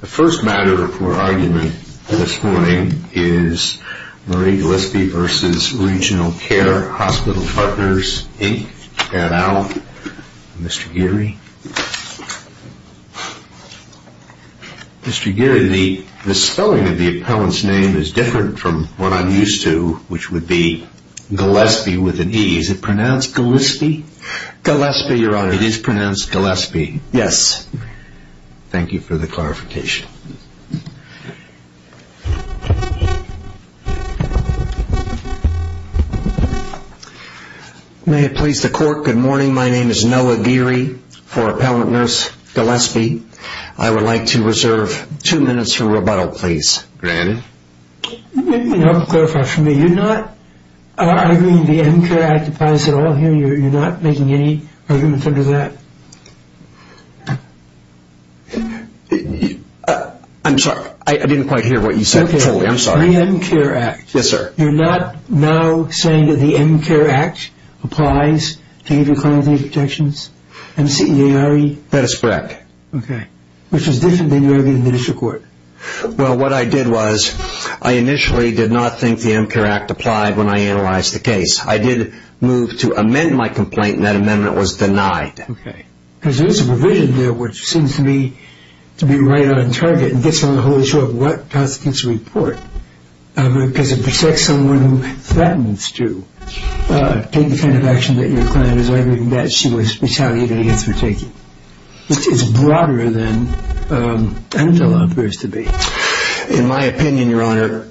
The first matter for argument this morning is Marie Gillespie v. Regional Care Hospital Partners, Inc. Mr. Geary? Mr. Geary, the spelling of the appellant's name is different from what I'm used to, which would be Gillespie with an E. Is it pronounced Gillespie? Gillespie, Your Honor. It is pronounced Gillespie? Yes. Thank you for the clarification. May it please the Court, good morning. My name is Noah Geary for Appellant Nurse Gillespie. I would like to reserve two minutes for rebuttal, please. Granted. I'm sorry, I didn't quite hear what you said totally. I'm sorry. Okay, the M-CARE Act. Yes, sir. You're not now saying that the M-CARE Act applies to any of your clientele protections? M-C-A-R-E? That is correct. Okay, which is different than your argument in the district court. Well, what I did was, I initially did not think the M-CARE Act applied when I analyzed the case. I did move to amend my complaint and that amendment was denied. Okay. Because there is a provision there which seems to me to be right on target and gets on the whole issue of what constitutes a report. Because it protects someone who threatens to take the kind of action that your client is arguing that she was retaliated against for taking. It's broader than I'm told it appears to be. In my opinion, Your Honor,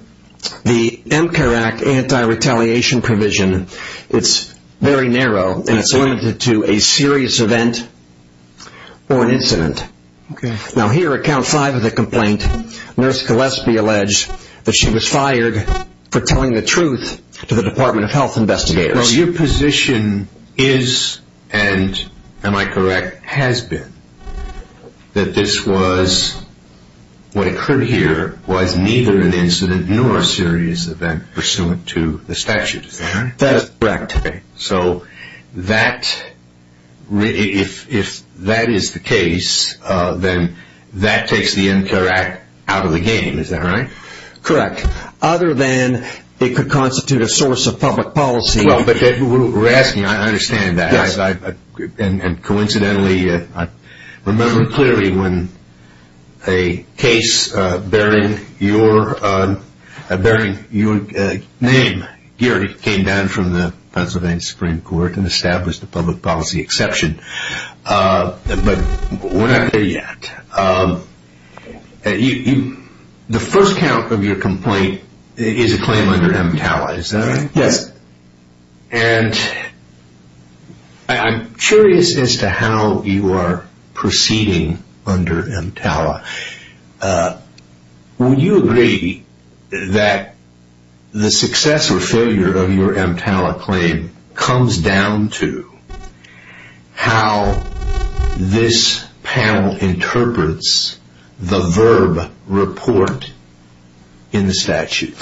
the M-CARE Act anti-retaliation provision, it's very narrow. Yes, sir. And it's limited to a serious event or an incident. Okay. Now here at count five of the complaint, Nurse Gillespie alleged that she was fired for telling the truth to the Department of Health investigators. Your position is and, am I correct, has been that this was, what occurred here, was neither an incident nor a serious event pursuant to the statute. Is that right? That is correct. So if that is the case, then that takes the M-CARE Act out of the game. Is that right? Correct. Other than it could constitute a source of public policy. Well, but we're asking, I understand that. Yes. And coincidentally, I remember clearly when a case bearing your name, Gary, came down from the Pennsylvania Supreme Court and established a public policy exception. But we're not there yet. The first count of your complaint is a claim under MTALA. Is that right? Yes. And I'm curious as to how you are proceeding under MTALA. Would you agree that the success or failure of your MTALA claim comes down to how this panel interprets the VERB report in the statute?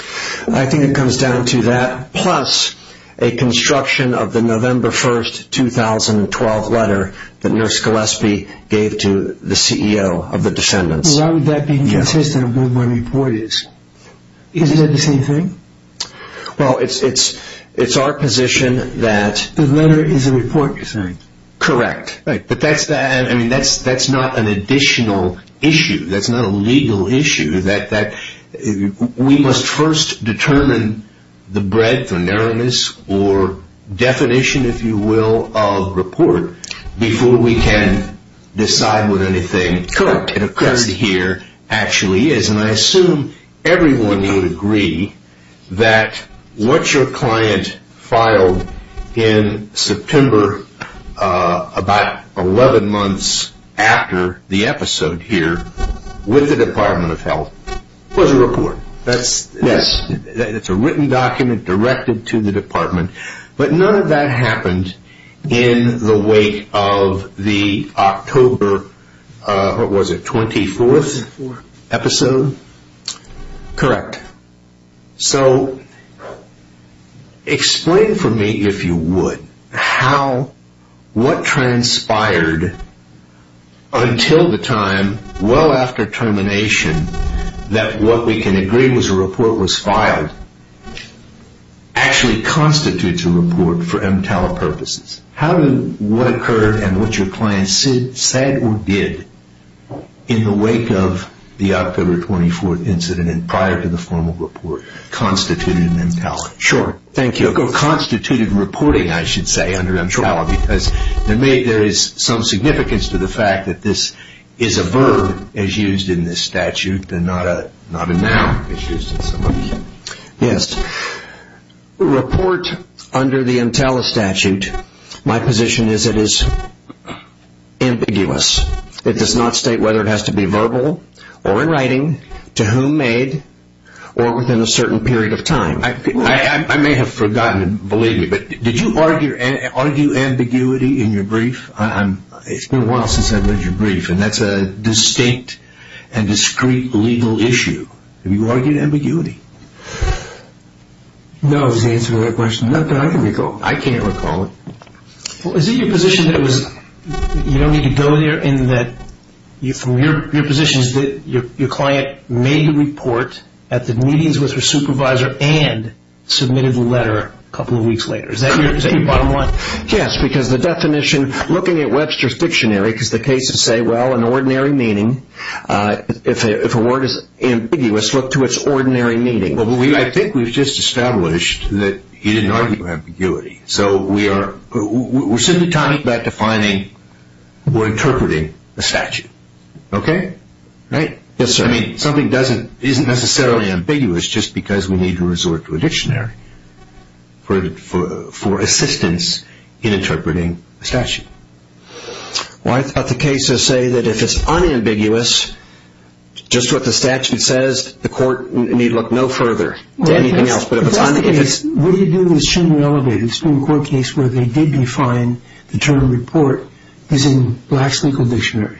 I think it comes down to that, plus a construction of the November 1st, 2012 letter that Nurse Gillespie gave to the CEO of the Descendants. Why would that be consistent with what my report is? Isn't that the same thing? Well, it's our position that... The letter is a report, you're saying? Correct. Right. But that's not an additional issue. That's not a legal issue. We must first determine the breadth or narrowness or definition, if you will, of report before we can decide what anything here actually is. And I assume everyone would agree that what your client filed in September about 11 months after the episode here with the Department of Health was a report. Yes. It's a written document directed to the Department. But none of that happened in the wake of the October, what was it, 24th episode? Correct. So explain for me, if you would, what transpired until the time well after termination that what we can agree was a report was filed actually constitutes a report for MTAL purposes? How did what occurred and what your client said or did in the wake of the October, 24th incident and prior to the formal report constitute an MTAL? Sure. Thank you. It constituted reporting, I should say, under MTAL because there is some significance to the fact that this is a verb as used in this statute and not a noun as used in some of these. Yes. Report under the MTAL statute, my position is it is ambiguous. It does not state whether it has to be verbal or in writing, to whom made, or within a certain period of time. I may have forgotten, believe me, but did you argue ambiguity in your brief? It's been a while since I've read your brief and that's a distinct and discreet legal issue. Have you argued ambiguity? No, is the answer to that question. I can recall it. I can't recall it. Is it your position that you don't need to go there and that your position is that your client made a report at the meetings with her supervisor and submitted the letter a couple of weeks later? Is that your bottom line? Yes, because the definition looking at Webster's dictionary is the case to say, well, in ordinary meaning, if a word is ambiguous, look to its ordinary meaning. Well, I think we've just established that you didn't argue ambiguity. So we're simply talking about defining or interpreting a statute. Okay? Right? Yes, sir. I mean, something isn't necessarily ambiguous just because we need to resort to a dictionary for assistance in interpreting a statute. Well, I thought the case would say that if it's unambiguous, just what the statute says, the court need look no further than anything else. What do you do that shouldn't be elevated? It's been a court case where they did define the term report as in Black's legal dictionary.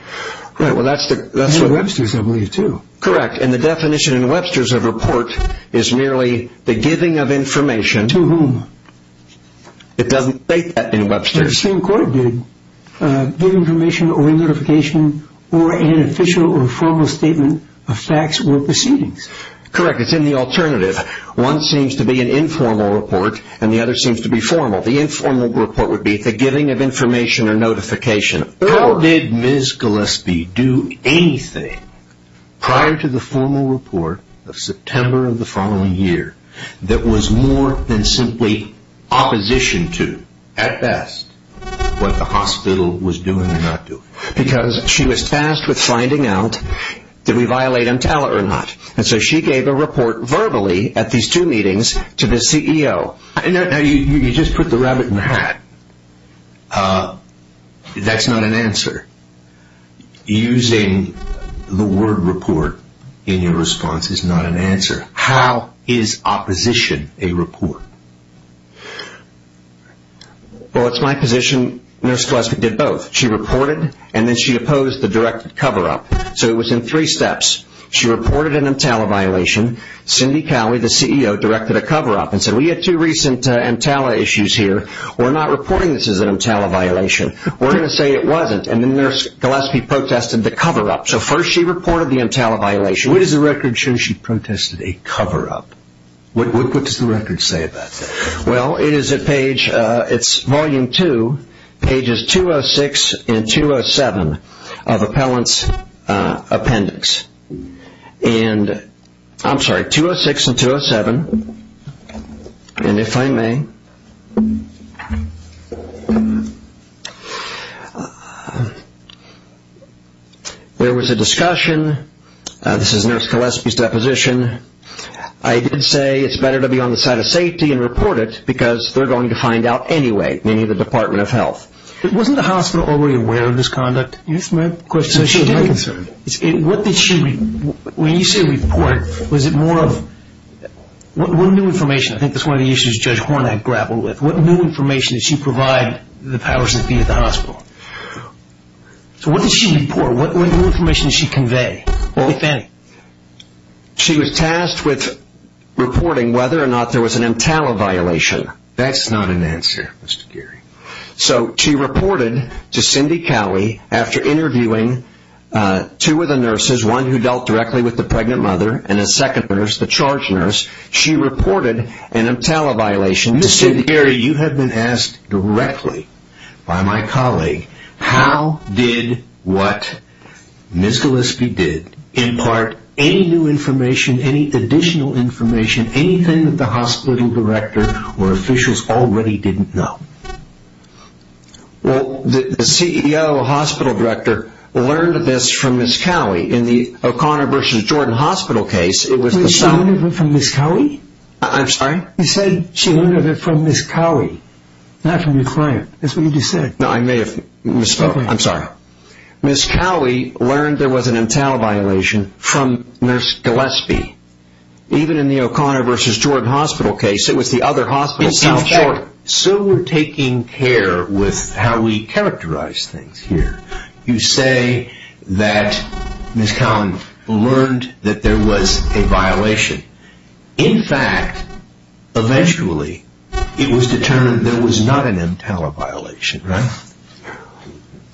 Webster's, I believe, too. Correct. And the definition in Webster's of report is merely the giving of information. To whom? It doesn't state that in Webster's. But the same court did. Give information or notification or an official or formal statement of facts or proceedings. Correct. It's in the alternative. One seems to be an informal report and the other seems to be formal. The informal report would be the giving of information or notification. How did Ms. Gillespie do anything prior to the formal report of September of the following year that was more than simply opposition to, at best, what the hospital was doing or not doing? Because she was tasked with finding out, did we violate EMTALA or not? And so she gave a report verbally at these two meetings to the CEO. You just put the rabbit in the hat. That's not an answer. Using the word report in your response is not an answer. How is opposition a report? Well, it's my position Nurse Gillespie did both. She reported and then she opposed the directed cover-up. So it was in three steps. She reported an EMTALA violation. Cindy Cowley, the CEO, directed a cover-up and said we had two recent EMTALA issues here. We're not reporting this as an EMTALA violation. We're going to say it wasn't. And then Nurse Gillespie protested the cover-up. So first she reported the EMTALA violation. What does the record show she protested a cover-up? What does the record say about that? Well, it is at page, it's volume two, pages 206 and 207 of appellant's appendix. And, I'm sorry, 206 and 207. And if I may, there was a discussion. This is Nurse Gillespie's deposition. I did say it's better to be on the side of safety and report it because they're going to find out anyway, meaning the Department of Health. Wasn't the hospital already aware of this conduct? Yes, ma'am. When you say report, was it more of what new information? I think that's one of the issues Judge Hornak grappled with. What new information did she provide the powers that be at the hospital? So what did she report? What new information did she convey? She was tasked with reporting whether or not there was an EMTALA violation. That's not an answer, Mr. Geary. So she reported to Cindy Cowley after interviewing two of the nurses, one who dealt directly with the pregnant mother and a second nurse, the charge nurse. She reported an EMTALA violation. Mr. Geary, you have been asked directly by my colleague how did what Ms. Gillespie did impart any new information, any additional information, anything that the hospital director or officials already didn't know? Well, the CEO, the hospital director, learned of this from Ms. Cowley. In the O'Connor v. Jordan hospital case, it was the same. She learned of it from Ms. Cowley? I'm sorry? You said she learned of it from Ms. Cowley, not from your client. That's what you just said. No, I may have misspoke. I'm sorry. Ms. Cowley learned there was an EMTALA violation from Nurse Gillespie. Even in the O'Connor v. Jordan hospital case, it was the other hospital. So we're taking care with how we characterize things here. You say that Ms. Cowley learned that there was a violation. In fact, eventually it was determined there was not an EMTALA violation, right?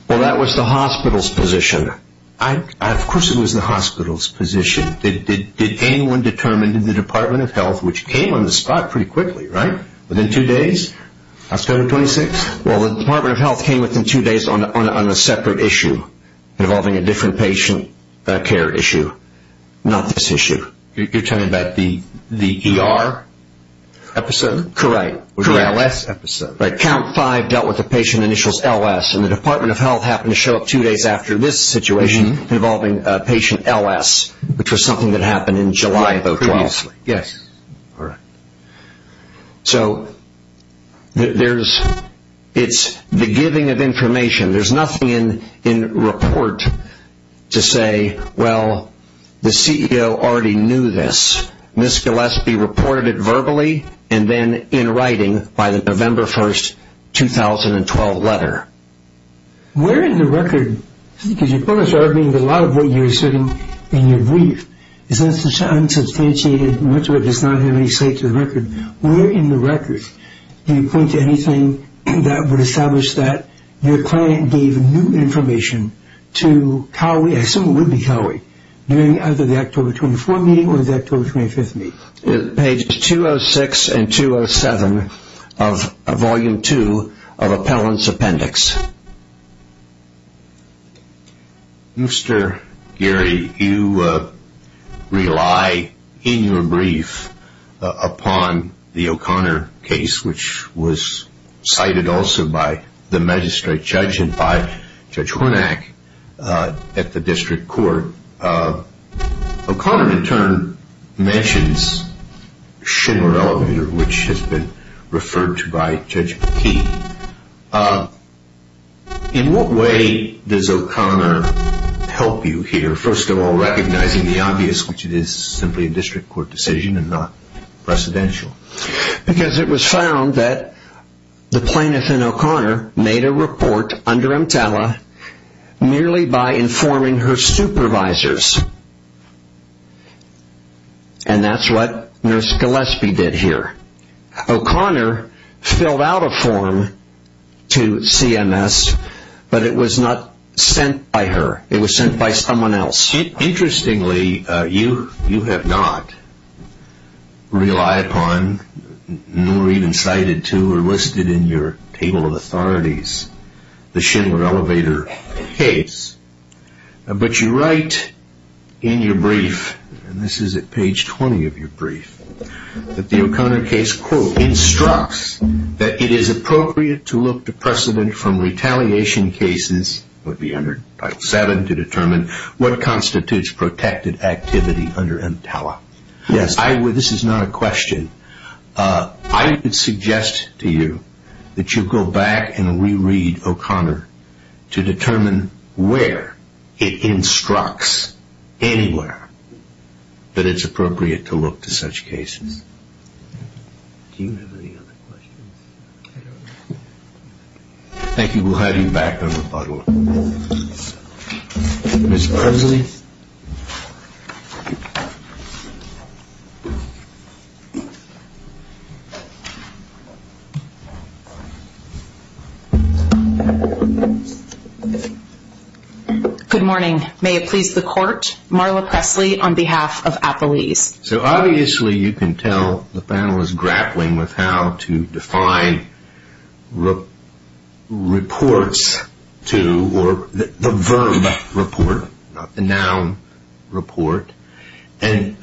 Well, that was the hospital's position. Of course it was the hospital's position. Did anyone determine in the Department of Health, which came on the spot pretty quickly, right? Within two days? Hospital No. 26? Well, the Department of Health came within two days on a separate issue involving a different patient care issue, not this issue. You're talking about the ER episode? Correct. The LS episode. Right. Count 5 dealt with the patient initials LS, and the Department of Health happened to show up two days after this situation involving patient LS, which was something that happened in July of 2012. Yes. All right. So it's the giving of information. There's nothing in report to say, well, the CEO already knew this. Ms. Gillespie reported it verbally and then in writing by the November 1, 2012, letter. Where in the record, because you're probably asserting that a lot of what you're asserting in your brief is unsubstantiated, much of it does not have any say to the record. Where in the record can you point to anything that would establish that your client gave new information to Cowley, during either the October 24 meeting or the October 25 meeting? Page 206 and 207 of Volume 2 of Appellant's Appendix. Mr. Geary, you rely in your brief upon the O'Connor case, which was cited also by the magistrate judge and by Judge Hornack at the district court. O'Connor, in turn, mentions Schindler Elevator, which has been referred to by Judge McKee. In what way does O'Connor help you here? First of all, recognizing the obvious, which it is simply a district court decision and not precedential. Because it was found that the plaintiff in O'Connor made a report under EMTALA merely by informing her supervisors. And that's what Nurse Gillespie did here. O'Connor filled out a form to CMS, but it was not sent by her. It was sent by someone else. Interestingly, you have not relied upon, nor even cited to or listed in your table of authorities, the Schindler Elevator case. But you write in your brief, and this is at page 20 of your brief, that the O'Connor case, quote, would be under Title VII to determine what constitutes protected activity under EMTALA. Yes. This is not a question. I would suggest to you that you go back and reread O'Connor to determine where it instructs anywhere that it's appropriate to look to such cases. Do you have any other questions? Thank you. We'll have you back for rebuttal. Ms. Presley? Good morning. May it please the court, Marla Presley on behalf of Apoese. So obviously you can tell the panel is grappling with how to define reports to, or the verb report, not the noun report. And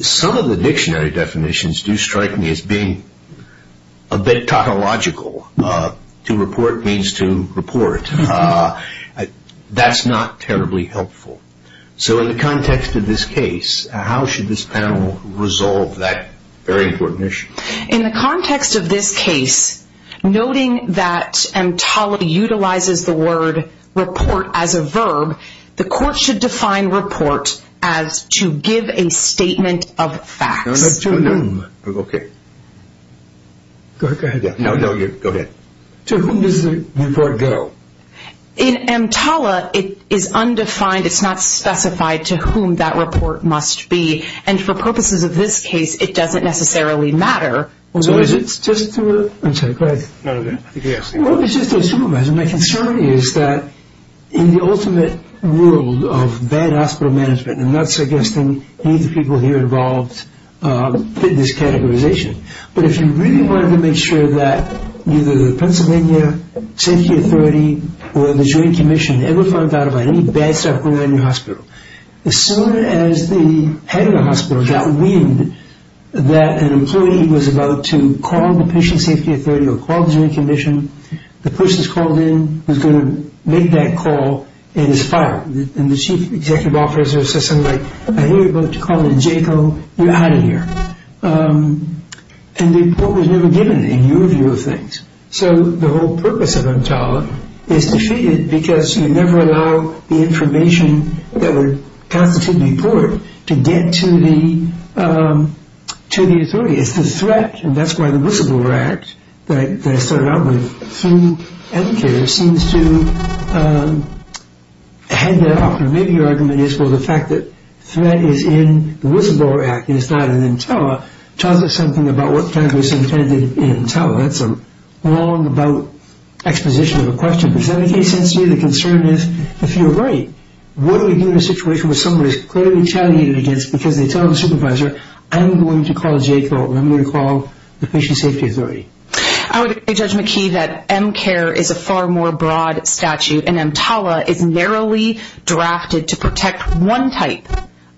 some of the dictionary definitions do strike me as being a bit tautological. To report means to report. That's not terribly helpful. So in the context of this case, how should this panel resolve that very important issue? In the context of this case, noting that EMTALA utilizes the word report as a verb, the court should define report as to give a statement of facts. To whom? Okay. Go ahead. Go ahead. To whom does the report go? In EMTALA, it is undefined. It's not specified to whom that report must be. And for purposes of this case, it doesn't necessarily matter. So is it just to a supervisor? My concern is that in the ultimate world of bad hospital management, and I'm not suggesting any of the people here involved fit this categorization, but if you really wanted to make sure that either the Pennsylvania Safety Authority or the Joint Commission ever found out about any bad stuff going on in your hospital, as soon as the head of the hospital got wind that an employee was about to call the Patient Safety Authority or call the Joint Commission, the person is called in, is going to make that call, and is fired. And the chief executive officer says something like, I hear you're about to call the JCO. You're out of here. And the report was never given in your view of things. So the whole purpose of EMTALA is defeated because you never allow the information that would constitute a report to get to the authority. It's a threat, and that's why the Whistleblower Act, that I started out with, seems to head that off. And maybe your argument is, well, the fact that threat is in the Whistleblower Act, and it's not in EMTALA, tells us something about what kind of was intended in EMTALA. That's a long about exposition of a question. But does that make sense to you? The concern is, if you're right, what do we do in a situation where somebody is clearly retaliated against because they tell the supervisor, I'm going to call JCO, and I'm going to call the Patient Safety Authority? I would say, Judge McKee, that MCARE is a far more broad statute, and EMTALA is narrowly drafted to protect one type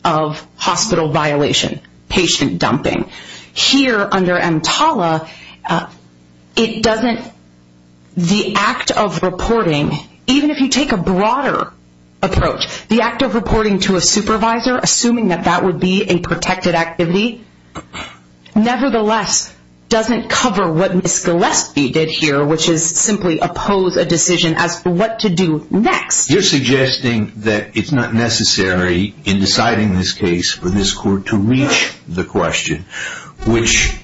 of hospital violation, patient dumping. Here, under EMTALA, it doesn't, the act of reporting, even if you take a broader approach, the act of reporting to a supervisor, assuming that that would be a protected activity, nevertheless, doesn't cover what Ms. Gillespie did here, which is simply oppose a decision as to what to do next. You're suggesting that it's not necessary in deciding this case for this court to reach the question, which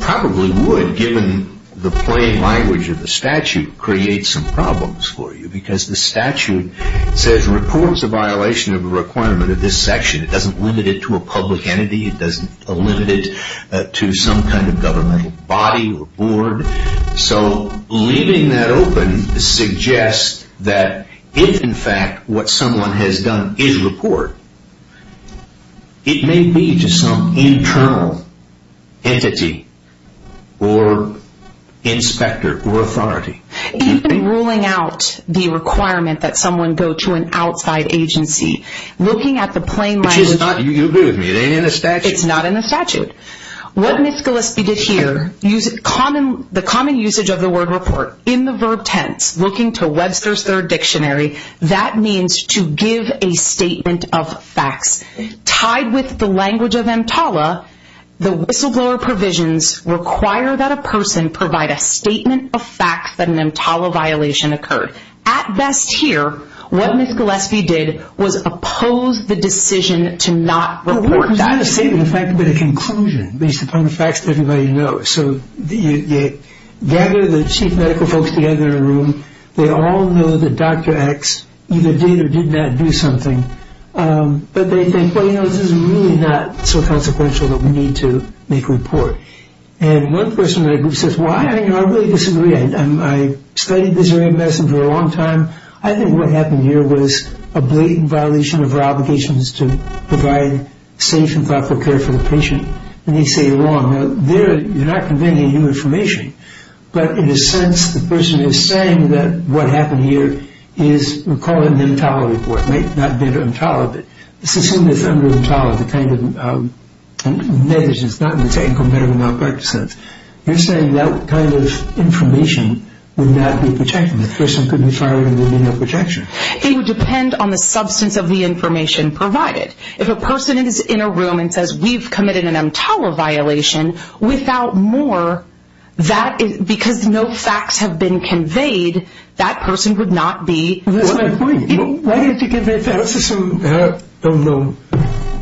probably would, given the plain language of the statute, create some problems for you, because the statute says, reports a violation of a requirement of this section. It doesn't limit it to a public entity. It doesn't limit it to some kind of governmental body or board. So leaving that open suggests that if, in fact, what someone has done is report, it may be to some internal entity or inspector or authority. Even ruling out the requirement that someone go to an outside agency, looking at the plain language. Which is not, you agree with me, it ain't in the statute. It's not in the statute. What Ms. Gillespie did here, the common usage of the word report in the verb tense, looking to Webster's Third Dictionary, that means to give a statement of facts. Tied with the language of EMTALA, the whistleblower provisions require that a person provide a statement of facts that an EMTALA violation occurred. At best here, what Ms. Gillespie did was oppose the decision to not report. That statement of fact would have been a conclusion based upon the facts that everybody knows. So gather the chief medical folks together in a room. They all know that Dr. X either did or did not do something. But they think, well, you know, this is really not so consequential that we need to make a report. And one person in my group says, well, I really disagree. I studied this area of medicine for a long time. I think what happened here was a blatant violation of our obligations to provide safe and thoughtful care for the patient. And they say you're wrong. You're not conveying any new information. But in a sense, the person is saying that what happened here is, we'll call it an EMTALA report. It might not have been EMTALA, but let's assume it's under EMTALA, the kind of negligence, not in the technical medical malpractice sense. You're saying that kind of information would not be protected. The person could be fired and there would be no protection. It would depend on the substance of the information provided. If a person is in a room and says, we've committed an EMTALA violation, without more, because no facts have been conveyed, that person would not be. That's my point. Why did you convey facts? I don't know.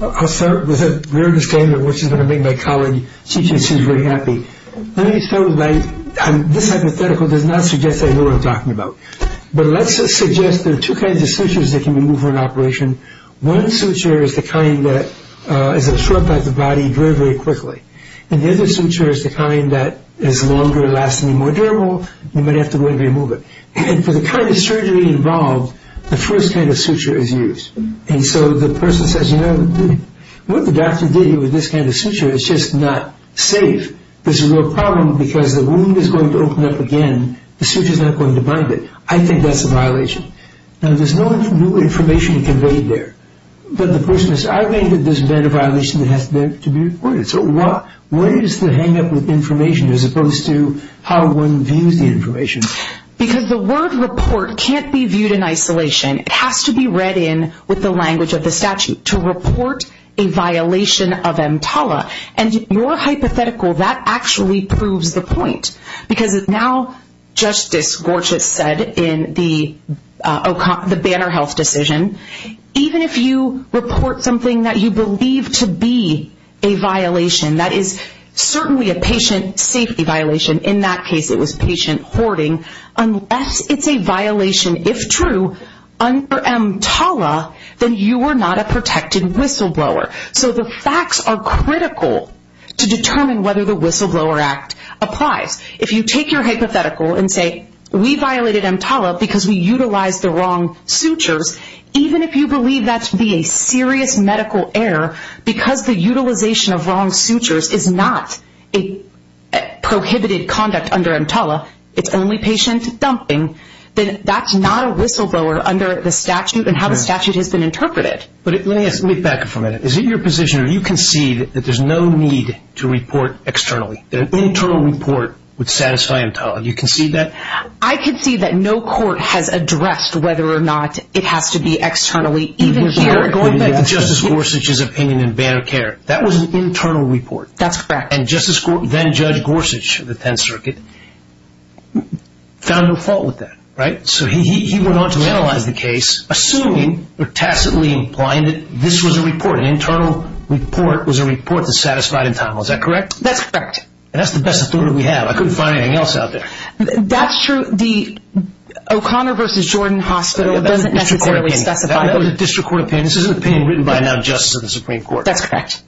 I'll start with a rare disclaimer, which is going to make my colleague C.J. Seuss very happy. Let me start with this hypothetical. It does not suggest I know what I'm talking about. But let's just suggest there are two kinds of sutures that can be removed for an operation. One suture is the kind that is absorbed by the body very, very quickly. And the other suture is the kind that is longer, lasting, and more durable. You might have to go ahead and remove it. And for the kind of surgery involved, the first kind of suture is used. And so the person says, you know, what the doctor did with this kind of suture is just not safe. This is a real problem because the wound is going to open up again. The suture is not going to bind it. I think that's a violation. Now, there's no new information conveyed there. But the person says, I think that there's been a violation that has to be reported. So what is the hangup with information as opposed to how one views the information? Because the word report can't be viewed in isolation. It has to be read in with the language of the statute, to report a violation of EMTALA. And more hypothetical, that actually proves the point. Because now, Justice Gorchis said in the Banner Health decision, even if you report something that you believe to be a violation, that is certainly a patient safety violation, in that case it was patient hoarding, unless it's a violation, if true, under EMTALA, then you are not a protected whistleblower. So the facts are critical to determine whether the Whistleblower Act applies. If you take your hypothetical and say, we violated EMTALA because we utilized the wrong sutures, even if you believe that to be a serious medical error, because the utilization of wrong sutures is not a prohibited conduct under EMTALA, it's only patient dumping, then that's not a whistleblower under the statute, and how the statute has been interpreted. Let me back up for a minute. Is it your position, or do you concede, that there's no need to report externally, that an internal report would satisfy EMTALA? Do you concede that? I concede that no court has addressed whether or not it has to be externally, even here. Going back to Justice Gorsuch's opinion in Banner Care, that was an internal report. That's correct. And Justice Gorsuch, then Judge Gorsuch of the Tenth Circuit, found no fault with that, right? So he went on to analyze the case, assuming or tacitly implying that this was a report, an internal report was a report that satisfied EMTALA. Is that correct? That's correct. And that's the best authority we have. I couldn't find anything else out there. That's true. The O'Connor v. Jordan Hospital doesn't necessarily specify that. That was a district court opinion. This is an opinion written by now Justice of the Supreme Court. That's correct.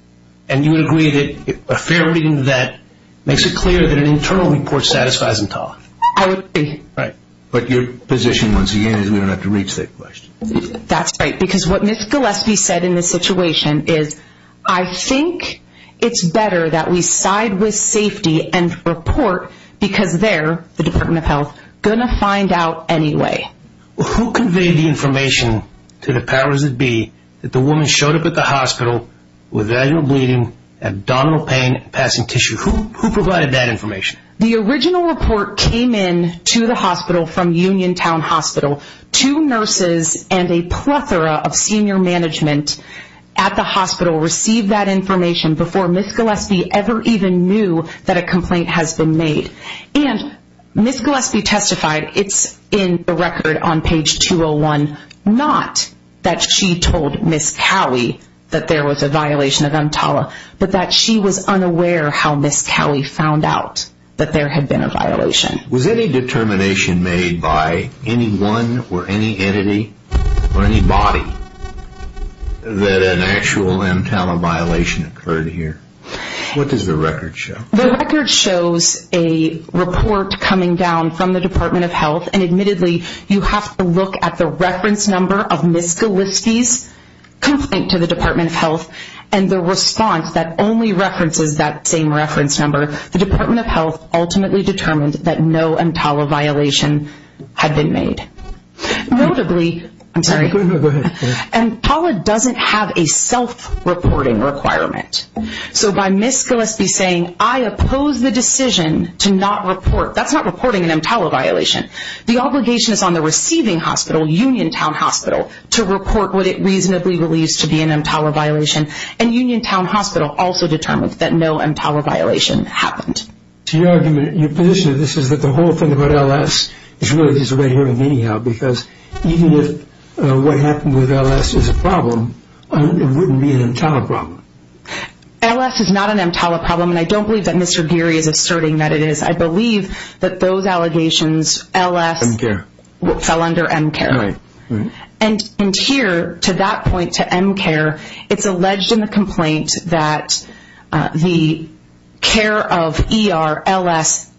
And you would agree that a fair reading of that makes it clear that an internal report satisfies EMTALA? I agree. Right. But your position, once again, is we don't have to reach that question. That's right. Because what Ms. Gillespie said in this situation is, I think it's better that we side with safety and report because they're, the Department of Health, going to find out anyway. Who conveyed the information to the powers that be that the woman showed up at the hospital with vaginal bleeding, abdominal pain, and passing tissue? Who provided that information? The original report came in to the hospital from Uniontown Hospital. Two nurses and a plethora of senior management at the hospital received that information before Ms. Gillespie ever even knew that a complaint has been made. And Ms. Gillespie testified, it's in the record on page 201, not that she told Ms. Cowley that there was a violation of EMTALA, but that she was unaware how Ms. Cowley found out that there had been a violation. Was any determination made by anyone or any entity or any body that an actual EMTALA violation occurred here? What does the record show? The record shows a report coming down from the Department of Health, and admittedly you have to look at the reference number of Ms. Gillespie's complaint to the Department of Health and the response that only references that same reference number. The Department of Health ultimately determined that no EMTALA violation had been made. Notably, EMTALA doesn't have a self-reporting requirement. So by Ms. Gillespie saying, I oppose the decision to not report, that's not reporting an EMTALA violation. The obligation is on the receiving hospital, Uniontown Hospital, to report what it reasonably believes to be an EMTALA violation. And Uniontown Hospital also determined that no EMTALA violation happened. So your argument, your position of this is that the whole thing about LS is really just a way of hearing anyhow, because even if what happened with LS is a problem, it wouldn't be an EMTALA problem. LS is not an EMTALA problem, and I don't believe that Mr. Geary is asserting that it is. I believe that those allegations, LS fell under MCARE. And here, to that point, to MCARE, it's alleged in the complaint that the care of ER, LS,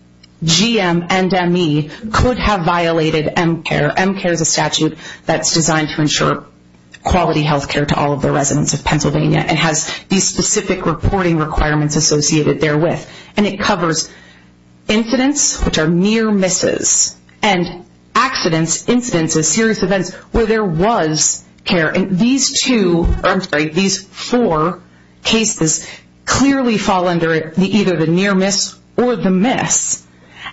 GM, and ME could have violated MCARE. MCARE is a statute that's designed to ensure quality health care to all of the residents of Pennsylvania and has these specific reporting requirements associated therewith. And it covers incidents, which are near misses, and accidents, incidents of serious events where there was care. And these two, or I'm sorry, these four cases clearly fall under either the near miss or the miss.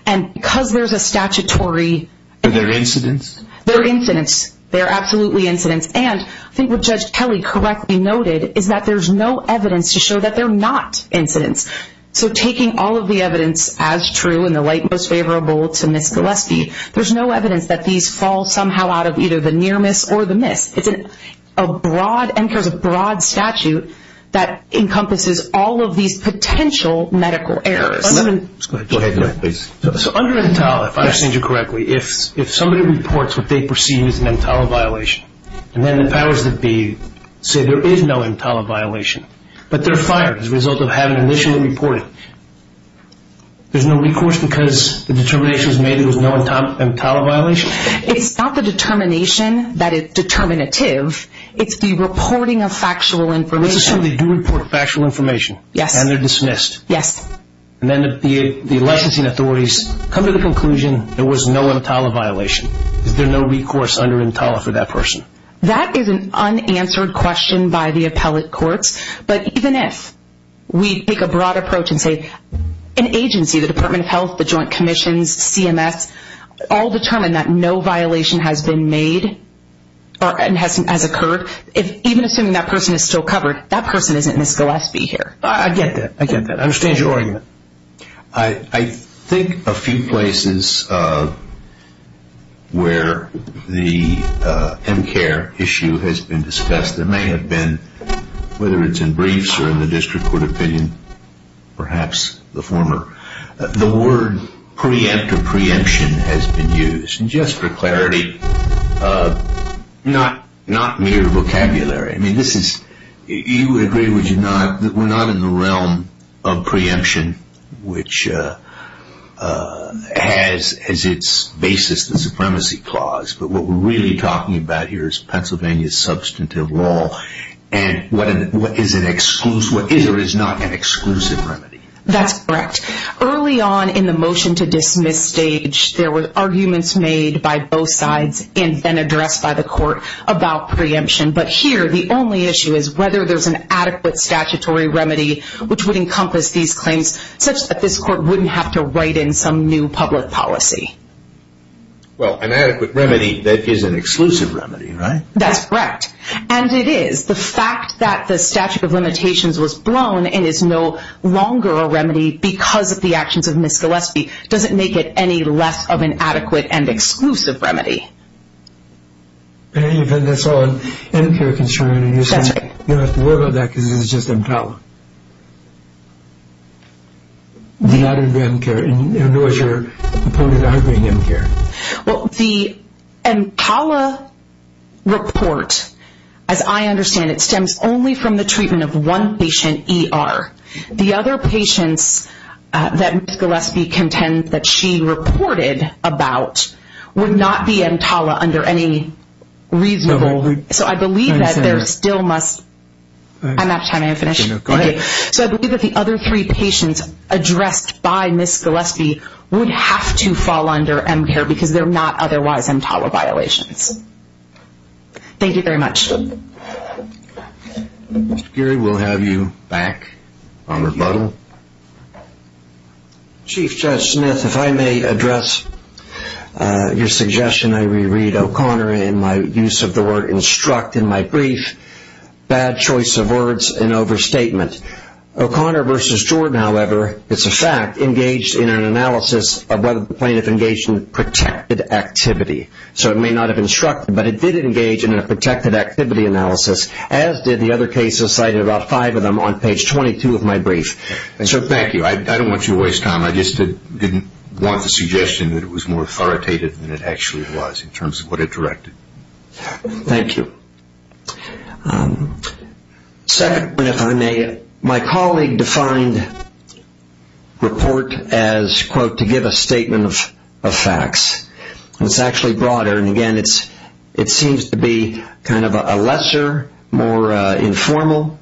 And because there's a statutory... Are there incidents? There are incidents. There are absolutely incidents. And I think what Judge Kelly correctly noted is that there's no evidence to show that they're not incidents. So taking all of the evidence as true and the light most favorable to Ms. Gillespie, there's no evidence that these fall somehow out of either the near miss or the miss. It's a broad, MCARE's a broad statute that encompasses all of these potential medical errors. Go ahead, please. So under EMTALA, if I understand you correctly, if somebody reports what they perceive as an EMTALA violation, and then the powers that be say there is no EMTALA violation, but they're fired as a result of having initially reported, there's no recourse because the determination was made there was no EMTALA violation? It's not the determination that is determinative. It's the reporting of factual information. Let's assume they do report factual information. Yes. And they're dismissed. Yes. And then the licensing authorities come to the conclusion there was no EMTALA violation. Is there no recourse under EMTALA for that person? That is an unanswered question by the appellate courts. But even if we take a broad approach and say an agency, the Department of Health, the Joint Commissions, CMS, all determine that no violation has been made or has occurred, even assuming that person is still covered, that person isn't Ms. Gillespie here. I get that. I get that. I understand your argument. I think a few places where the MCARE issue has been discussed, there may have been, whether it's in briefs or in the district court opinion, perhaps the former, the word preempt or preemption has been used just for clarity, not mere vocabulary. I mean, you would agree, would you not, that we're not in the realm of preemption, which has as its basis the supremacy clause, but what we're really talking about here is Pennsylvania's substantive law and what is or is not an exclusive remedy. That's correct. Early on in the motion to dismiss stage, there were arguments made by both sides and then addressed by the court about preemption. But here, the only issue is whether there's an adequate statutory remedy which would encompass these claims such that this court wouldn't have to write in some new public policy. Well, an adequate remedy that is an exclusive remedy, right? That's correct. And it is. The fact that the statute of limitations was blown and is no longer a remedy because of the actions of Ms. Gillespie doesn't make it any less of an adequate and exclusive remedy. In any event, that's all an M-CARE concern. That's right. You don't have to worry about that because it's just M-CALA. Not an M-CARE. In other words, your opponent is arguing M-CARE. Well, the M-CALA report, as I understand it, stems only from the treatment of one patient, ER. The other patients that Ms. Gillespie contends that she reported about would not be M-CALA under any reasonable... So I believe that there still must... I'm out of time. I'm finished. Go ahead. So I believe that the other three patients addressed by Ms. Gillespie would have to fall under M-CARE because they're not otherwise M-CALA violations. Thank you very much. Mr. Geary, we'll have you back on rebuttal. Chief Judge Smith, if I may address your suggestion, I reread O'Connor in my use of the word instruct in my brief. Bad choice of words, an overstatement. O'Connor versus Jordan, however, it's a fact, engaged in an analysis of whether the plaintiff engaged in protected activity. So it may not have instructed, but it did engage in a protected activity analysis, as did the other cases cited, about five of them on page 22 of my brief. Thank you. I don't want you to waste time. I just didn't want the suggestion that it was more authoritative than it actually was in terms of what it directed. Thank you. Second, if I may, my colleague defined report as, quote, to give a statement of facts. It's actually broader, and, again, it seems to be kind of a lesser, more informal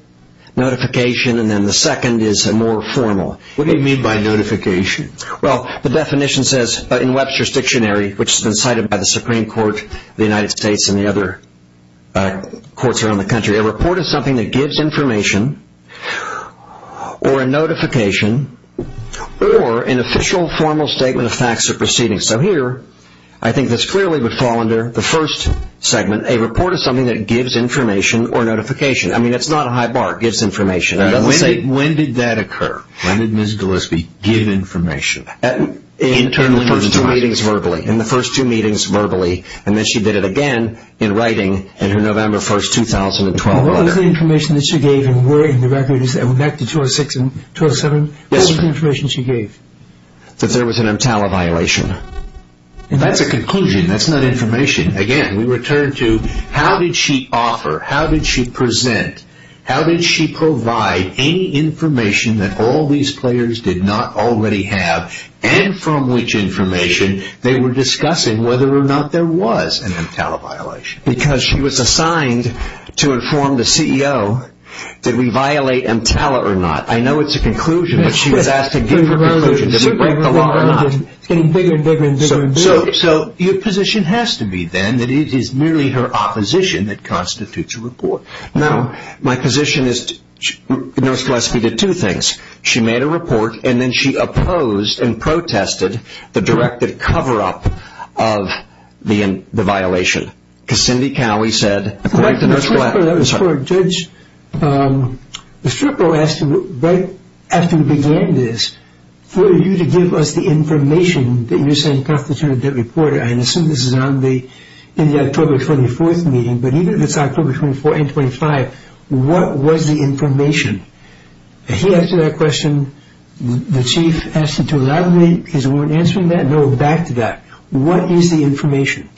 notification, and then the second is more formal. What do you mean by notification? Well, the definition says, in Webster's Dictionary, which has been cited by the Supreme Court of the United States and the other courts around the country, a report is something that gives information or a notification or an official formal statement of facts or proceedings. So here, I think this clearly would fall under the first segment, a report is something that gives information or notification. I mean, it's not a high bar. It gives information. When did that occur? When did Ms. Gillespie give information? In the first two meetings, verbally. In the first two meetings, verbally, and then she did it again in writing in her November 1, 2012 letter. What was the information that she gave in the record? And we're back to 206 and 207. Yes. What was the information she gave? That there was an MTALA violation. That's a conclusion. That's not information. Again, we return to how did she offer, how did she present, how did she provide any information that all these players did not already have, and from which information they were discussing whether or not there was an MTALA violation. Because she was assigned to inform the CEO, did we violate MTALA or not? It's getting bigger and bigger and bigger and bigger. So your position has to be, then, that it is merely her opposition that constitutes a report. Now, my position is Ms. Gillespie did two things. She made a report, and then she opposed and protested the directive cover-up of the violation. Because Cindy Cowie said, according to Ms. Gillespie. That was for a judge. The stripper asked him right after he began this, for you to give us the information that you're saying constitutes a report, and I assume this is in the October 24th meeting, but even if it's October 24th and 25th, what was the information? He asked her that question. The chief asked her to elaborate because we weren't answering that. Now we're back to that. What is the information?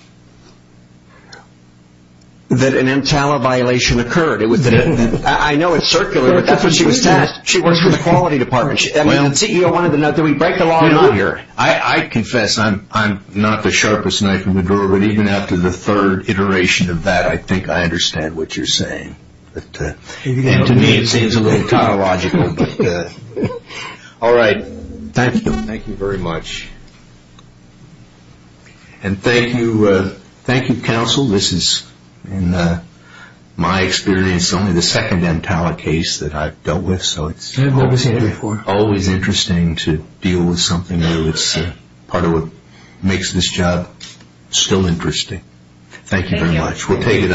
That an MTALA violation occurred. I know it's circular, but that's what she was tasked. She works for the quality department. The CEO wanted to know, did we break the law or not? I confess I'm not the sharpest knife in the drawer, but even after the third iteration of that, I think I understand what you're saying. To me it seems a little chronological. All right. Thank you. Thank you very much. And thank you, counsel. This is, in my experience, only the second MTALA case that I've dealt with, so it's always interesting to deal with something new. It's part of what makes this job still interesting. Thank you very much. We'll take it unnoticed.